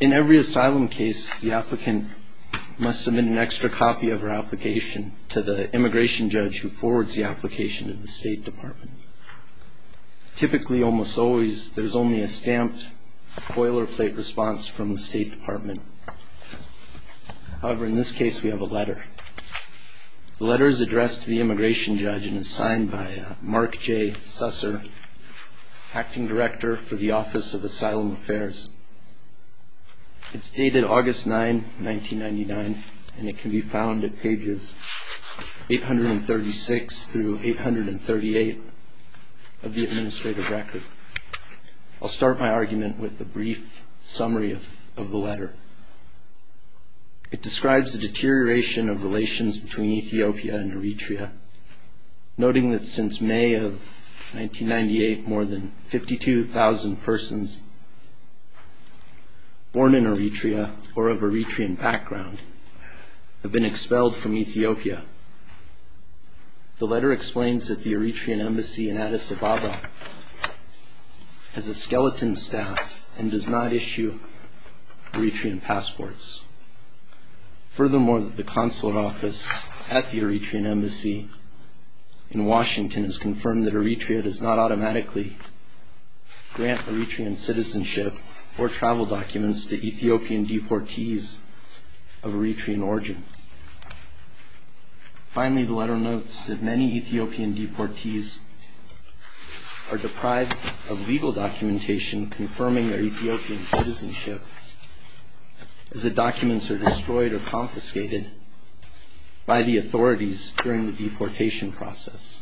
In every asylum case, the applicant must submit an extra copy of her application to the immigration judge who forwards the application to the State Department. Typically, almost always, there is only a stamped, boilerplate response from the State Department. However, in this case, we have a letter. The letter is addressed to the immigration judge and is signed by Mark J. Susser, Acting Director for the Office of Asylum Affairs. It's dated August 9, 1999, and it can be found at pages 836 through 838 of the administrative record. I'll start my argument with a brief summary of the letter. It describes the deterioration of relations between Ethiopia and Eritrea, noting that since May of 1998, more than 52,000 persons born in Eritrea or of Eritrean background have been expelled from Ethiopia. The letter explains that the Eritrean Embassy in Addis Ababa has a skeleton staff and does not issue Eritrean passports. Furthermore, the consulate office at the Eritrean Embassy in Washington has confirmed that Eritrea does not automatically grant Eritrean citizenship or travel documents to Ethiopian deportees of Eritrean origin. Finally, the letter notes that many Ethiopian deportees are deprived of legal documentation confirming their Ethiopian citizenship as the documents are destroyed or confiscated by the authorities during the deportation process.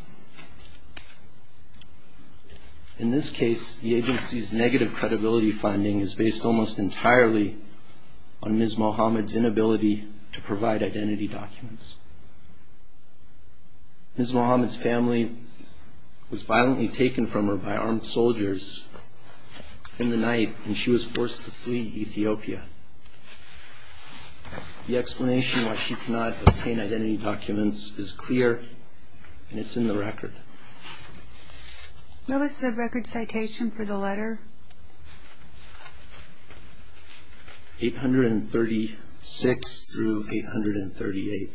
In this case, the agency's negative credibility finding is based almost entirely on Ms. Mohamed's inability to provide identity documents. Ms. Mohamed's family was violently taken from her by armed soldiers in the night, and she was forced to flee Ethiopia. The explanation why she could not obtain identity documents is clear, and it's in the record. What was the record citation for the letter? 836 through 838.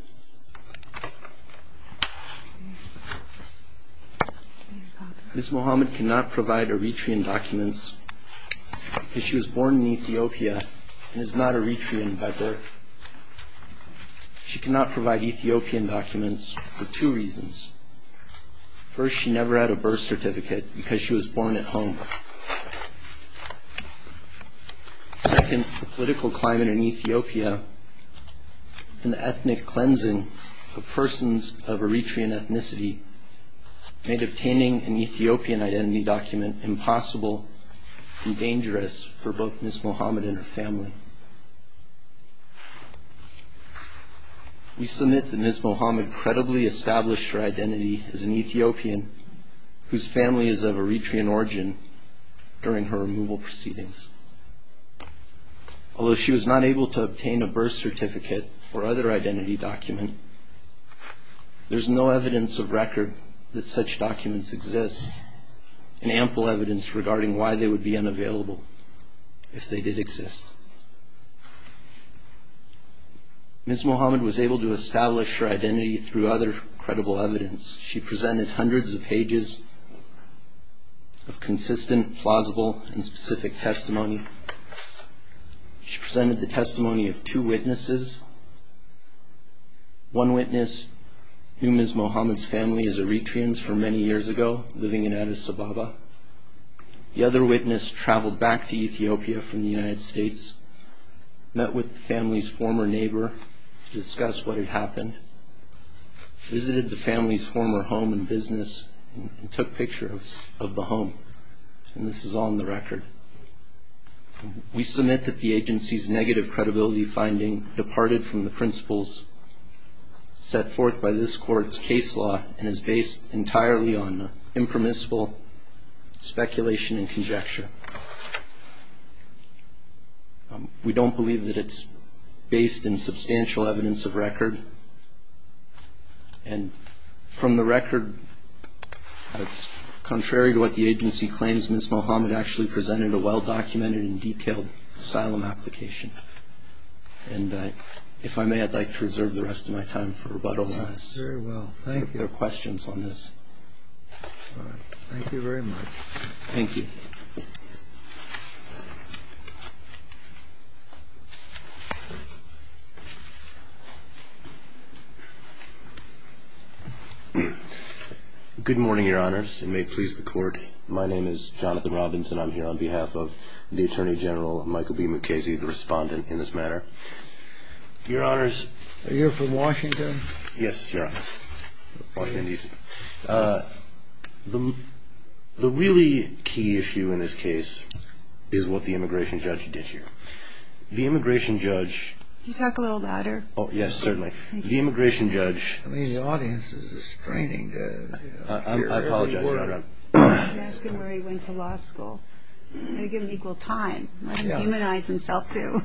Ms. Mohamed cannot provide Eritrean documents because she was born in Ethiopia and is not Eritrean by birth. She cannot provide Ethiopian documents for two reasons. First, she never had a birth certificate because she was born at home. Second, the political climate in Ethiopia and the ethnic cleansing of persons of Eritrean ethnicity made obtaining an Ethiopian identity document impossible and dangerous for both Ms. Mohamed and her family. We submit that Ms. Mohamed credibly established her identity as an Ethiopian whose family is of Eritrean origin during her removal proceedings. Although she was not able to obtain a birth certificate or other identity document, there's no evidence of record that such documents exist, and ample evidence regarding why they would be unavailable if they did exist. Ms. Mohamed was able to establish her identity through other credible evidence. She presented hundreds of pages of consistent, plausible, and specific testimony. She presented the testimony of two witnesses. One witness, whom Ms. Mohamed's family is Eritreans for many years ago, living in Addis Ababa. The other witness traveled back to Ethiopia from the United States, met with the family's former neighbor to discuss what had happened, visited the family's former home and business, and took pictures of the home. And this is on the record. We submit that the agency's negative credibility finding departed from the principles set forth by this Court's case law and is based entirely on impermissible speculation and conjecture. We don't believe that it's based in substantial evidence of record. And from the record, it's contrary to what the agency claims. Ms. Mohamed actually presented a well-documented and detailed asylum application. And if I may, I'd like to reserve the rest of my time for rebuttal on this. Very well. Thank you. If there are questions on this. All right. Thank you very much. Thank you. Good morning, Your Honors, and may it please the Court. My name is Jonathan Robinson. I'm here on behalf of the Attorney General, Michael B. Mukasey, the respondent in this matter. Your Honors. Are you from Washington? Yes, Your Honor. Washington, D.C. The really key issue in this case is what the immigration judge did here. The immigration judge... Can you talk a little louder? Oh, yes, certainly. The immigration judge... I mean, the audience is restraining. I apologize, Your Honor. That's good where he went to law school. He got an equal time. He humanized himself, too.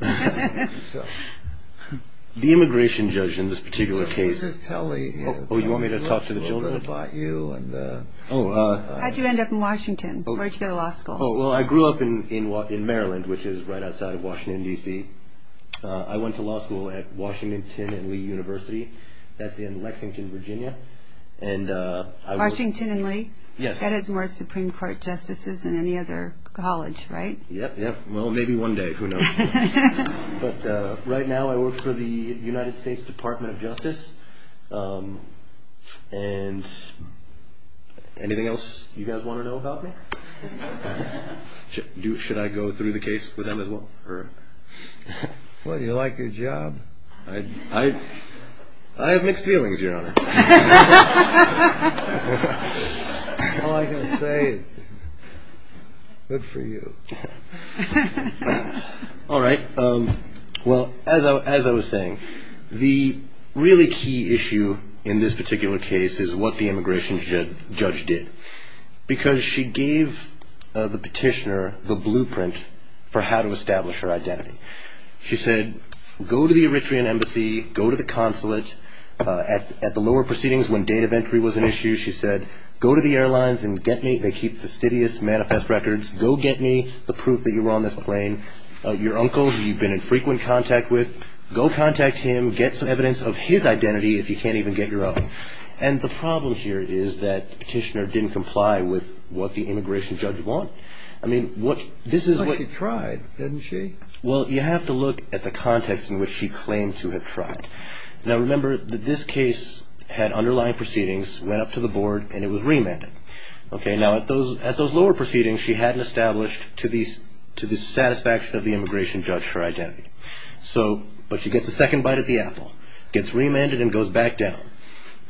The immigration judge in this particular case... Oh, you want me to talk to the children? How did you end up in Washington? Where did you go to law school? Oh, well, I grew up in Maryland, which is right outside of Washington, D.C. I went to law school at Washington and Lee University. That's in Lexington, Virginia. Washington and Lee? Yes. That has more Supreme Court justices than any other college, right? Yep, yep. Well, maybe one day. Who knows? But right now I work for the United States Department of Justice. And anything else you guys want to know about me? Should I go through the case with them as well? Well, you like your job. I have mixed feelings, Your Honor. All I can say is good for you. All right. Well, as I was saying, the really key issue in this particular case is what the immigration judge did. Because she gave the petitioner the blueprint for how to establish her identity. She said, go to the Eritrean Embassy, go to the consulate. At the lower proceedings when date of entry was an issue, she said, go to the airlines and get me. They keep fastidious manifest records. Go get me the proof that you were on this plane. Your uncle, who you've been in frequent contact with, go contact him. Get some evidence of his identity if you can't even get your own. And the problem here is that the petitioner didn't comply with what the immigration judge wanted. But she tried, didn't she? Well, you have to look at the context in which she claimed to have tried. Now, remember that this case had underlying proceedings, went up to the board, and it was remanded. Now, at those lower proceedings, she hadn't established to the satisfaction of the immigration judge her identity. But she gets a second bite of the apple, gets remanded and goes back down.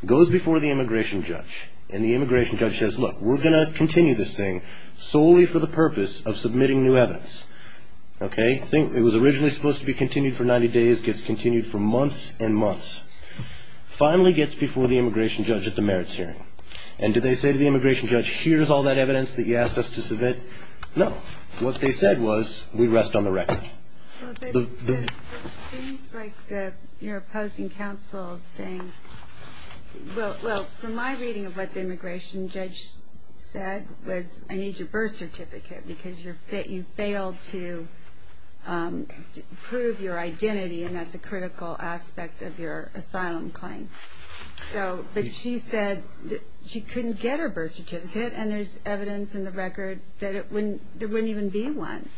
Goes before the immigration judge. And the immigration judge says, look, we're going to continue this thing solely for the purpose of submitting new evidence. Okay? It was originally supposed to be continued for 90 days, gets continued for months and months. Finally gets before the immigration judge at the merits hearing. And did they say to the immigration judge, here's all that evidence that you asked us to submit? No. What they said was, we rest on the record. It seems like you're opposing counsel saying, well, from my reading of what the immigration judge said was, I need your birth certificate because you failed to prove your identity, and that's a critical aspect of your asylum claim. But she said she couldn't get her birth certificate, and there's evidence in the record that there wouldn't even be one.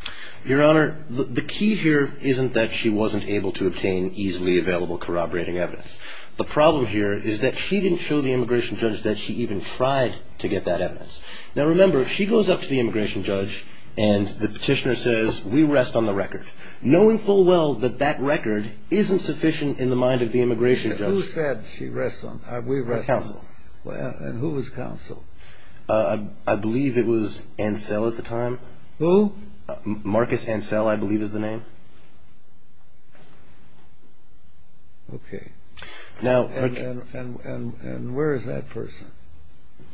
Your Honor, the key here isn't that she wasn't able to obtain easily available corroborating evidence. The problem here is that she didn't show the immigration judge that she even tried to get that evidence. Now, remember, she goes up to the immigration judge, and the petitioner says, we rest on the record, knowing full well that that record isn't sufficient in the mind of the immigration judge. Who said she rests on the record? Counsel. And who was counsel? I believe it was Ansel at the time. Who? Marcus Ansel, I believe is the name. Okay. And where is that person?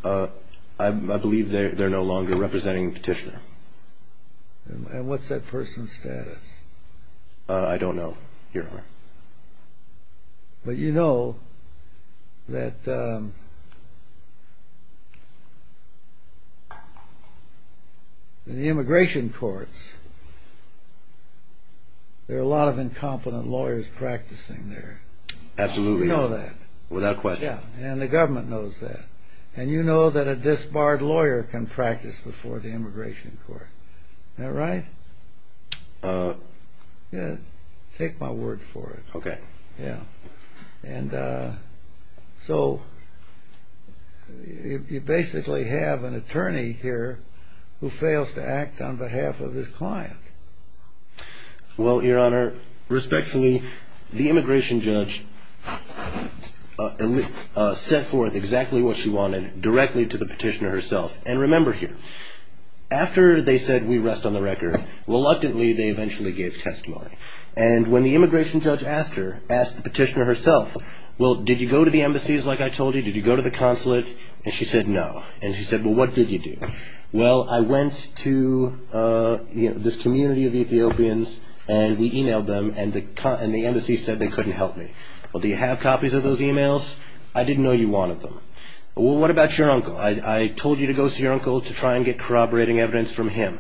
I believe they're no longer representing the petitioner. And what's that person's status? I don't know, Your Honor. But you know that in the immigration courts, there are a lot of incompetent lawyers practicing there. Absolutely. You know that. Without question. And the government knows that. And you know that a disbarred lawyer can practice before the immigration court. Am I right? Yeah, take my word for it. Okay. Yeah. And so you basically have an attorney here who fails to act on behalf of his client. Well, Your Honor, respectfully, the immigration judge set forth exactly what she wanted directly to the petitioner herself. And remember here, after they said we rest on the record, reluctantly they eventually gave testimony. And when the immigration judge asked her, asked the petitioner herself, well, did you go to the embassies like I told you? Did you go to the consulate? And she said no. And she said, well, what did you do? Well, I went to this community of Ethiopians, and we emailed them, and the embassy said they couldn't help me. Well, do you have copies of those emails? I didn't know you wanted them. Well, what about your uncle? I told you to go see your uncle to try and get corroborating evidence from him.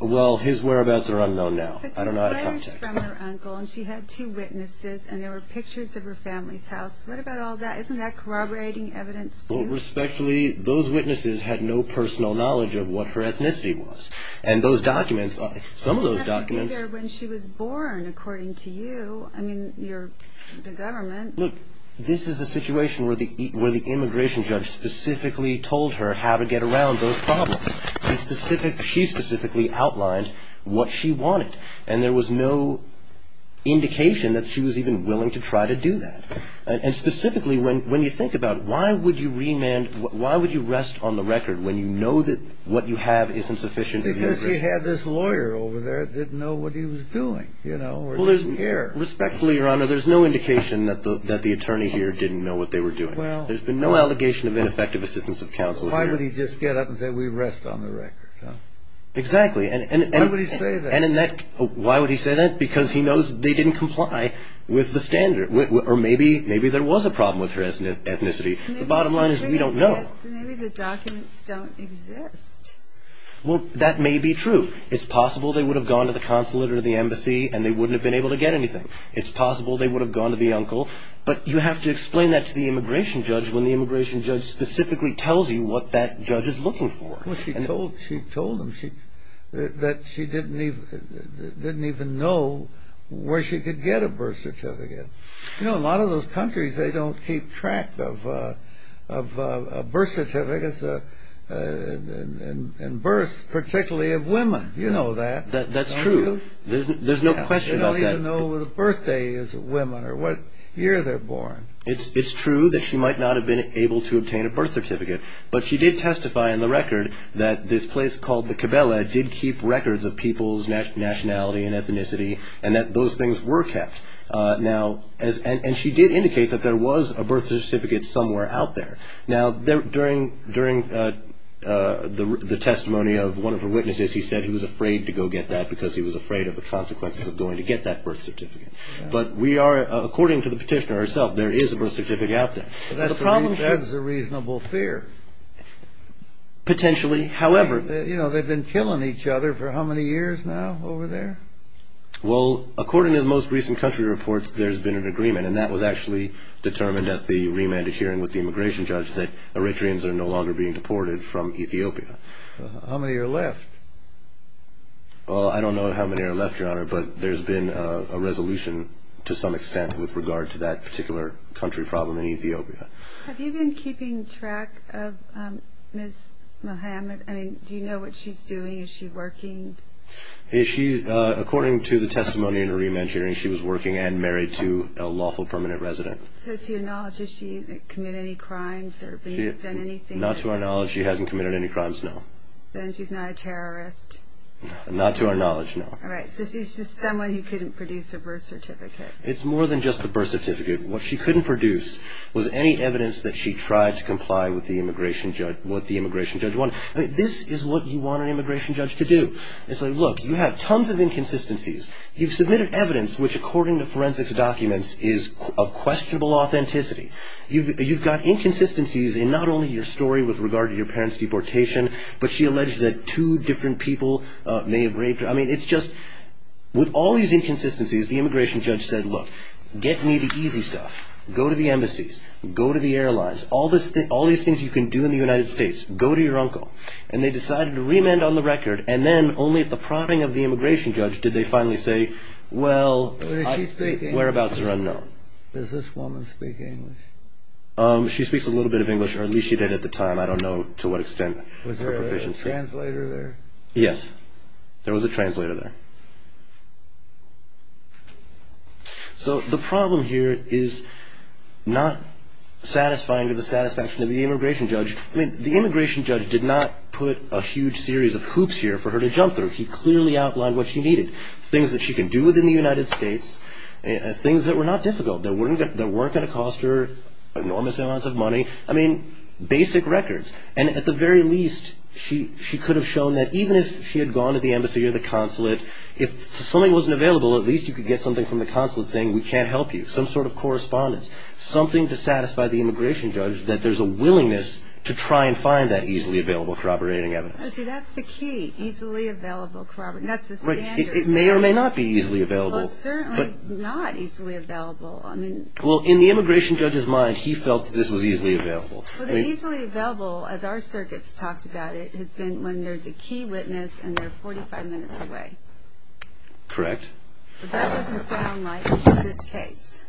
Well, his whereabouts are unknown now. I don't know how to contact him. But there's letters from her uncle, and she had two witnesses, and there were pictures of her family's house. What about all that? Isn't that corroborating evidence, too? Well, respectfully, those witnesses had no personal knowledge of what her ethnicity was. And those documents, some of those documents – Well, that would be there when she was born, according to you. I mean, you're the government. Look, this is a situation where the immigration judge specifically told her how to get around those problems. She specifically outlined what she wanted, and there was no indication that she was even willing to try to do that. And specifically, when you think about it, why would you rest on the record when you know that what you have isn't sufficient? Because she had this lawyer over there that didn't know what he was doing, you know, or didn't care. Respectfully, Your Honor, there's no indication that the attorney here didn't know what they were doing. There's been no allegation of ineffective assistance of counsel here. Why would he just get up and say, we rest on the record? Exactly. Why would he say that? Why would he say that? Because he knows they didn't comply with the standard, or maybe there was a problem with her ethnicity. The bottom line is we don't know. Maybe the documents don't exist. Well, that may be true. It's possible they would have gone to the consulate or the embassy and they wouldn't have been able to get anything. It's possible they would have gone to the uncle. But you have to explain that to the immigration judge when the immigration judge specifically tells you what that judge is looking for. Well, she told him that she didn't even know where she could get a birth certificate. You know, a lot of those countries, they don't keep track of birth certificates and births, particularly of women. You know that, don't you? That's true. There's no question about that. They don't even know what a birthday is of women or what year they're born. It's true that she might not have been able to obtain a birth certificate, but she did testify on the record that this place called the Cabela did keep records of people's nationality and ethnicity and that those things were kept. And she did indicate that there was a birth certificate somewhere out there. Now, during the testimony of one of her witnesses, he said he was afraid to go get that because he was afraid of the consequences of going to get that birth certificate. But we are, according to the petitioner herself, there is a birth certificate out there. That's a reasonable fear. Potentially. You know, they've been killing each other for how many years now over there? Well, according to the most recent country reports, there's been an agreement, and that was actually determined at the remanded hearing with the immigration judge that Eritreans are no longer being deported from Ethiopia. How many are left? Well, I don't know how many are left, Your Honor, but there's been a resolution to some extent with regard to that particular country problem in Ethiopia. Have you been keeping track of Ms. Mohamed? I mean, do you know what she's doing? Is she working? According to the testimony in the remand hearing, she was working and married to a lawful permanent resident. So to your knowledge, has she committed any crimes or done anything else? Not to our knowledge. She hasn't committed any crimes, no. Then she's not a terrorist. Not to our knowledge, no. All right. So she's just someone who couldn't produce a birth certificate. It's more than just a birth certificate. What she couldn't produce was any evidence that she tried to comply with what the immigration judge wanted. I mean, this is what you want an immigration judge to do. It's like, look, you have tons of inconsistencies. You've submitted evidence which, according to forensics documents, is of questionable authenticity. You've got inconsistencies in not only your story with regard to your parents' deportation, but she alleged that two different people may have raped her. I mean, it's just with all these inconsistencies, the immigration judge said, look, get me the easy stuff. Go to the embassies. Go to the airlines. All these things you can do in the United States. Go to your uncle. And they decided to remand on the record, and then only at the prodding of the immigration judge did they finally say, well, whereabouts are unknown. Does this woman speak English? She speaks a little bit of English, or at least she did at the time. I don't know to what extent her proficiency is. Was there a translator there? Yes. There was a translator there. So the problem here is not satisfying to the satisfaction of the immigration judge. I mean, the immigration judge did not put a huge series of hoops here for her to jump through. He clearly outlined what she needed, things that she can do within the United States, things that were not difficult, that weren't going to cost her enormous amounts of money. I mean, basic records. And at the very least, she could have shown that even if she had gone to the embassy or the consulate, if something wasn't available, at least you could get something from the consulate saying, we can't help you, some sort of correspondence, something to satisfy the immigration judge, that there's a willingness to try and find that easily available corroborating evidence. See, that's the key, easily available corroborating. That's the standard. Right. It may or may not be easily available. Well, certainly not easily available. Well, in the immigration judge's mind, he felt that this was easily available. Well, the easily available, as our circuits talked about it, has been when there's a key witness and they're 45 minutes away. Correct. But that doesn't sound like this case.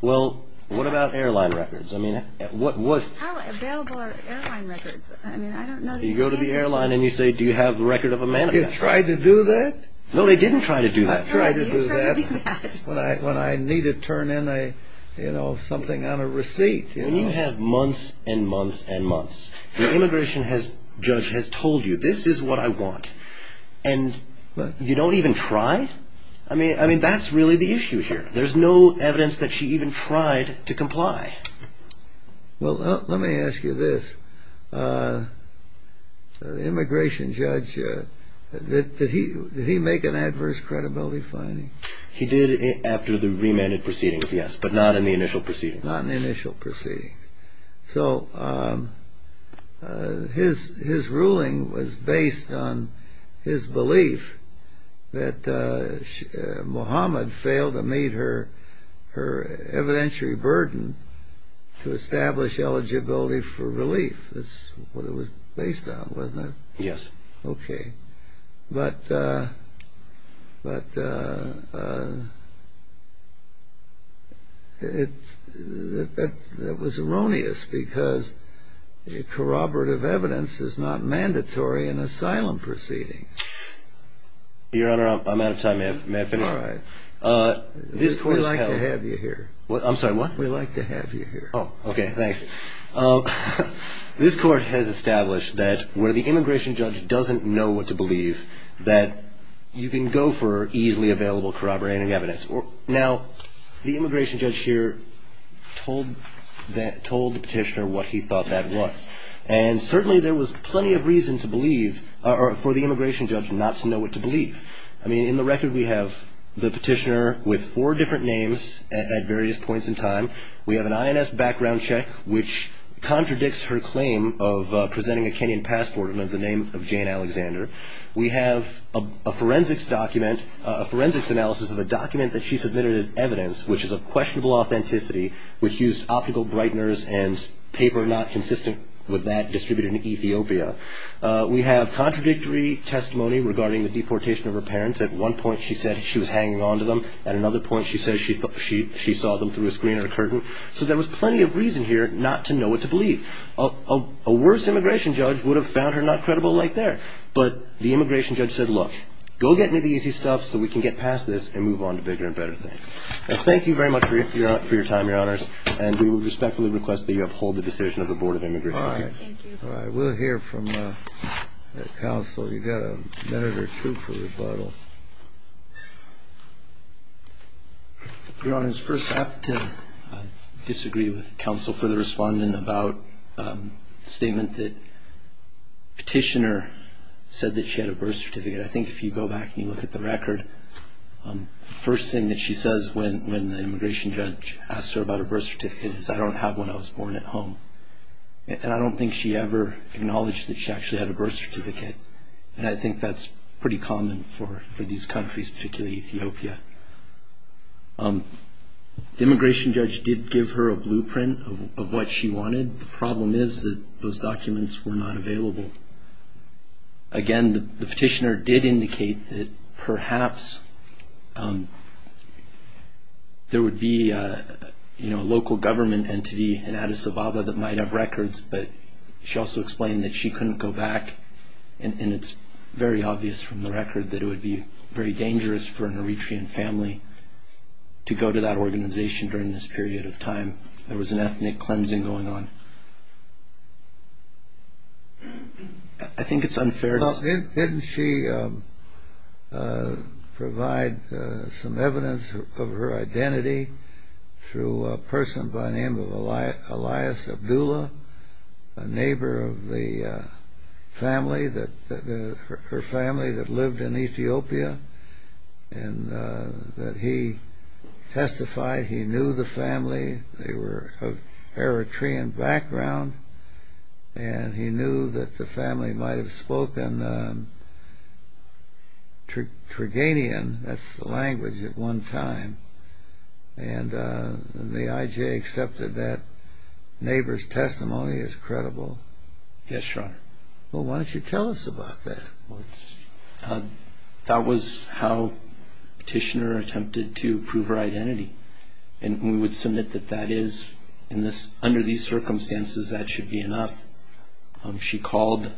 Well, what about airline records? I mean, what was... How available are airline records? I mean, I don't know the answer. You go to the airline and you say, do you have a record of a manifest? Did they try to do that? No, they didn't try to do that. No, they didn't try to do that. When I need to turn in a, you know, something on a receipt. When you have months and months and months, the immigration judge has told you, this is what I want, and you don't even try? I mean, that's really the issue here. There's no evidence that she even tried to comply. Well, let me ask you this. The immigration judge, did he make an adverse credibility finding? He did after the remanded proceedings, yes, but not in the initial proceedings. Not in the initial proceedings. So his ruling was based on his belief that Muhammad failed to meet her evidentiary burden to establish eligibility for relief. That's what it was based on, wasn't it? Yes. Okay. But that was erroneous, because corroborative evidence is not mandatory in asylum proceedings. Your Honor, I'm out of time, may I finish? All right. We'd like to have you here. I'm sorry, what? We'd like to have you here. Oh, okay, thanks. This Court has established that where the immigration judge doesn't know what to believe, that you can go for easily available corroborating evidence. Now, the immigration judge here told the petitioner what he thought that was, and certainly there was plenty of reason for the immigration judge not to know what to believe. I mean, in the record we have the petitioner with four different names at various points in time. We have an INS background check, which contradicts her claim of presenting a Kenyan passport under the name of Jane Alexander. We have a forensics analysis of a document that she submitted as evidence, which is of questionable authenticity, which used optical brighteners and paper not consistent with that distributed in Ethiopia. We have contradictory testimony regarding the deportation of her parents. At one point she said she was hanging on to them. At another point she said she saw them through a screen or a curtain. So there was plenty of reason here not to know what to believe. A worse immigration judge would have found her not credible right there. But the immigration judge said, look, go get me the easy stuff so we can get past this and move on to bigger and better things. Thank you very much for your time, Your Honors, and we would respectfully request that you uphold the decision of the Board of Immigration Judges. All right. We'll hear from counsel. You've got a minute or two for rebuttal. Your Honors, first I have to disagree with counsel for the respondent about the statement that the petitioner said that she had a birth certificate. I think if you go back and you look at the record, the first thing that she says when the immigration judge asks her about her birth certificate is, I don't have one, I was born at home. And I don't think she ever acknowledged that she actually had a birth certificate. And I think that's pretty common for these countries, particularly Ethiopia. The immigration judge did give her a blueprint of what she wanted. The problem is that those documents were not available. Again, the petitioner did indicate that perhaps there would be a local government entity in Addis Ababa that might have records, but she also explained that she couldn't go back. And it's very obvious from the record that it would be very dangerous for an Eritrean family to go to that organization during this period of time. There was an ethnic cleansing going on. I think it's unfair. Well, didn't she provide some evidence of her identity through a person by the name of Elias Abdullah, a neighbor of the family, her family that lived in Ethiopia, and that he testified he knew the family. They were of Eritrean background, and he knew that the family might have spoken Turganian. That's the language at one time. And the IJ accepted that neighbor's testimony is credible. Yes, Your Honor. Well, why don't you tell us about that? That was how the petitioner attempted to prove her identity. And we would submit that that is, under these circumstances, that should be enough. She called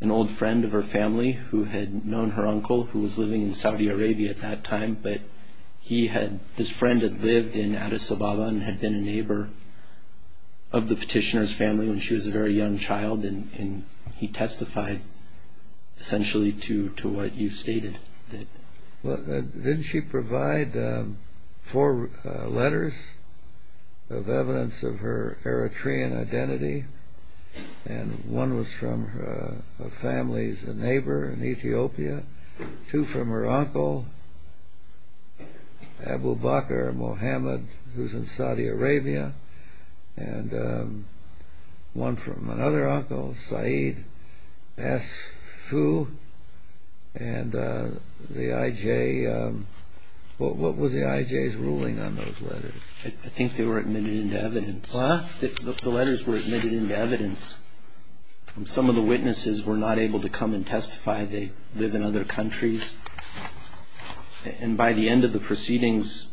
an old friend of her family who had known her uncle, who was living in Saudi Arabia at that time, but his friend had lived in Addis Ababa and had been a neighbor of the petitioner's family when she was a very young child, and he testified essentially to what you stated. Well, didn't she provide four letters of evidence of her Eritrean identity? And one was from a family's neighbor in Ethiopia, two from her uncle, Abu Bakr Mohammed, who's in Saudi Arabia, and one from another uncle, Saeed S. Fu. And the IJ, what was the IJ's ruling on those letters? I think they were admitted into evidence. What? The letters were admitted into evidence. Some of the witnesses were not able to come and testify. They live in other countries. And by the end of the proceedings,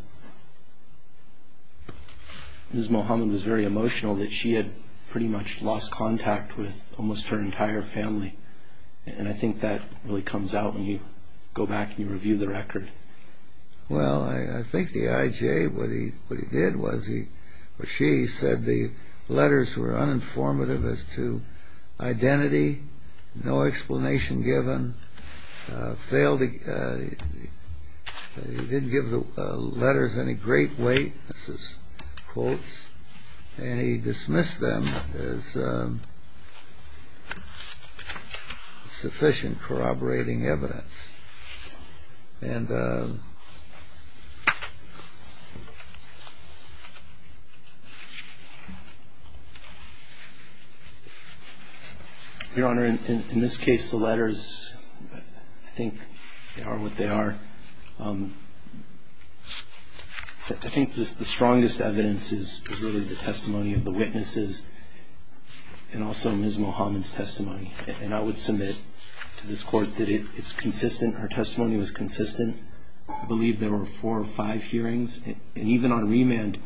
Ms. Mohammed was very emotional that she had pretty much lost contact with almost her entire family. And I think that really comes out when you go back and you review the record. Well, I think the IJ, what he did was he or she said the letters were uninformative as to identity, no explanation given. He didn't give the letters any great weight. This is quotes. And he dismissed them as sufficient corroborating evidence. And, Your Honor, in this case, the letters, I think they are what they are. I think the strongest evidence is really the testimony of the witnesses and also Ms. Mohammed's testimony. And I would submit to this Court that it's consistent. Her testimony was consistent. I believe there were four or five hearings. And even on remand,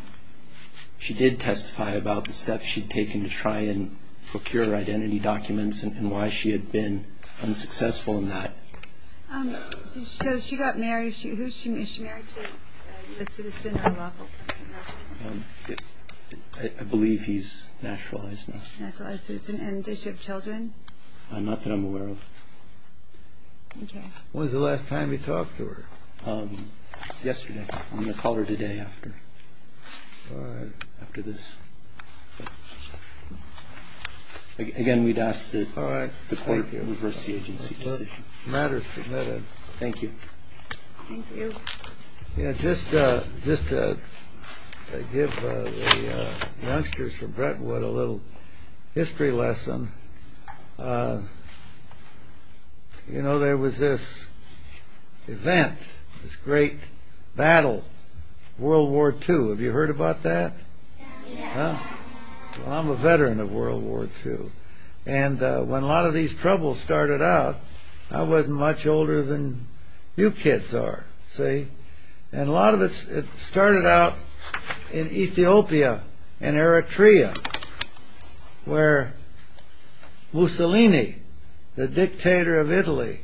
she did testify about the steps she had taken to try and procure her identity documents and why she had been unsuccessful in that. So she got married. Who is she married to? A citizen or local? I believe he's naturalized now. Naturalized citizen. And does she have children? Not that I'm aware of. Okay. When was the last time you talked to her? Yesterday. I'm going to call her today after. All right. After this. Again, we'd ask that the Court reverse the agency decision. Matters submitted. Thank you. Thank you. Just to give the youngsters from Brentwood a little history lesson, you know there was this event, this great battle, World War II. Have you heard about that? I'm a veteran of World War II. And when a lot of these troubles started out, I wasn't much older than you kids are, see? And a lot of it started out in Ethiopia, in Eritrea, where Mussolini, the dictator of Italy,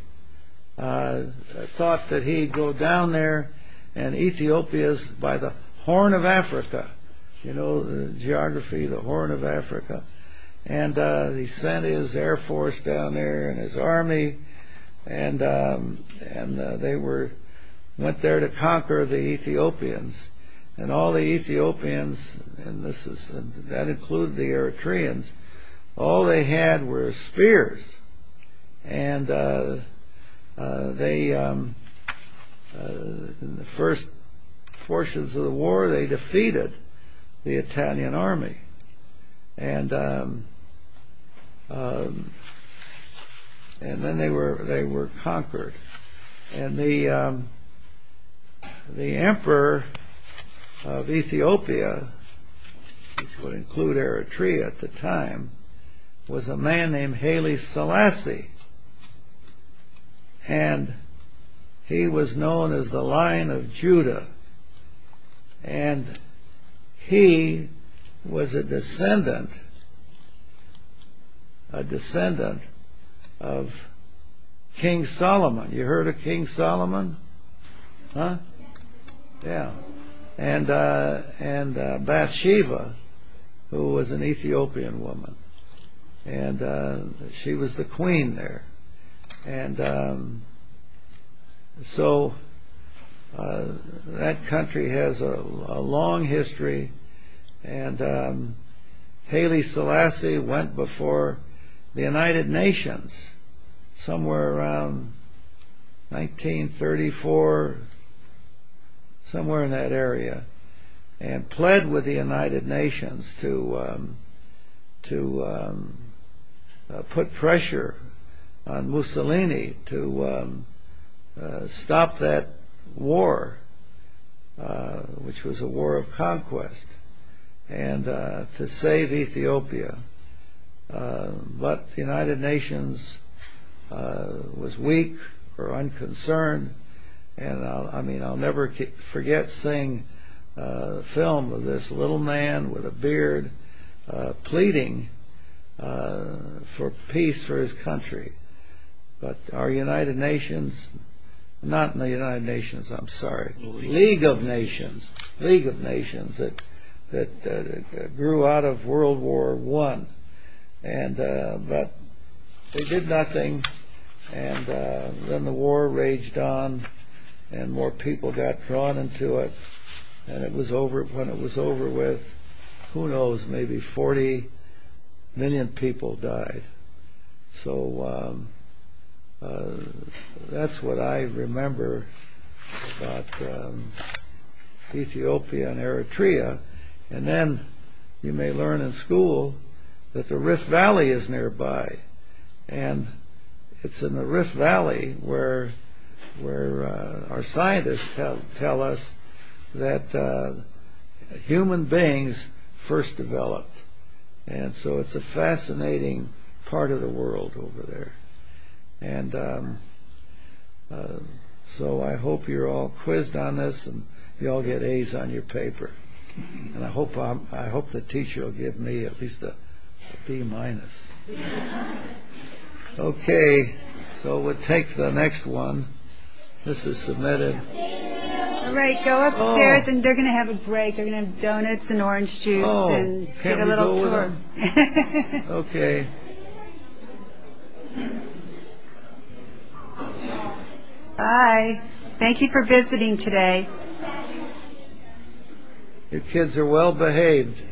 thought that he'd go down there and Ethiopia's by the horn of Africa, you know, the geography, the horn of Africa. And he sent his air force down there and his army, and they went there to conquer the Ethiopians. And all the Ethiopians, and that included the Eritreans, all they had were spears. And in the first portions of the war, they defeated the Italian army. And then they were conquered. And the emperor of Ethiopia, which would include Eritrea at the time, was a man named Haile Selassie. And he was known as the Lion of Judah. And he was a descendant of King Solomon. You heard of King Solomon? Yeah. And Bathsheba, who was an Ethiopian woman. And she was the queen there. And so that country has a long history. And Haile Selassie went before the United Nations somewhere around 1934, somewhere in that area, and pled with the United Nations to put pressure on Mussolini to stop that war, which was a war of conquest, and to save Ethiopia. But the United Nations was weak or unconcerned. And I mean, I'll never forget seeing a film of this little man with a beard pleading for peace for his country. But our United Nations, not in the United Nations, I'm sorry, League of Nations, League of Nations that grew out of World War I. But they did nothing. And then the war raged on. And more people got drawn into it. And when it was over with, who knows, maybe 40 million people died. So that's what I remember about Ethiopia and Eritrea. And then you may learn in school that the Rift Valley is nearby. And it's in the Rift Valley where our scientists tell us that human beings first developed. And so it's a fascinating part of the world over there. And so I hope you're all quizzed on this and you all get A's on your paper. And I hope the teacher will give me at least a B-. Okay, so we'll take the next one. This is submitted. All right, go upstairs and they're going to have a break. They're going to have donuts and orange juice and get a little tour. Okay. Okay. Bye. Thank you for visiting today. Your kids are well behaved.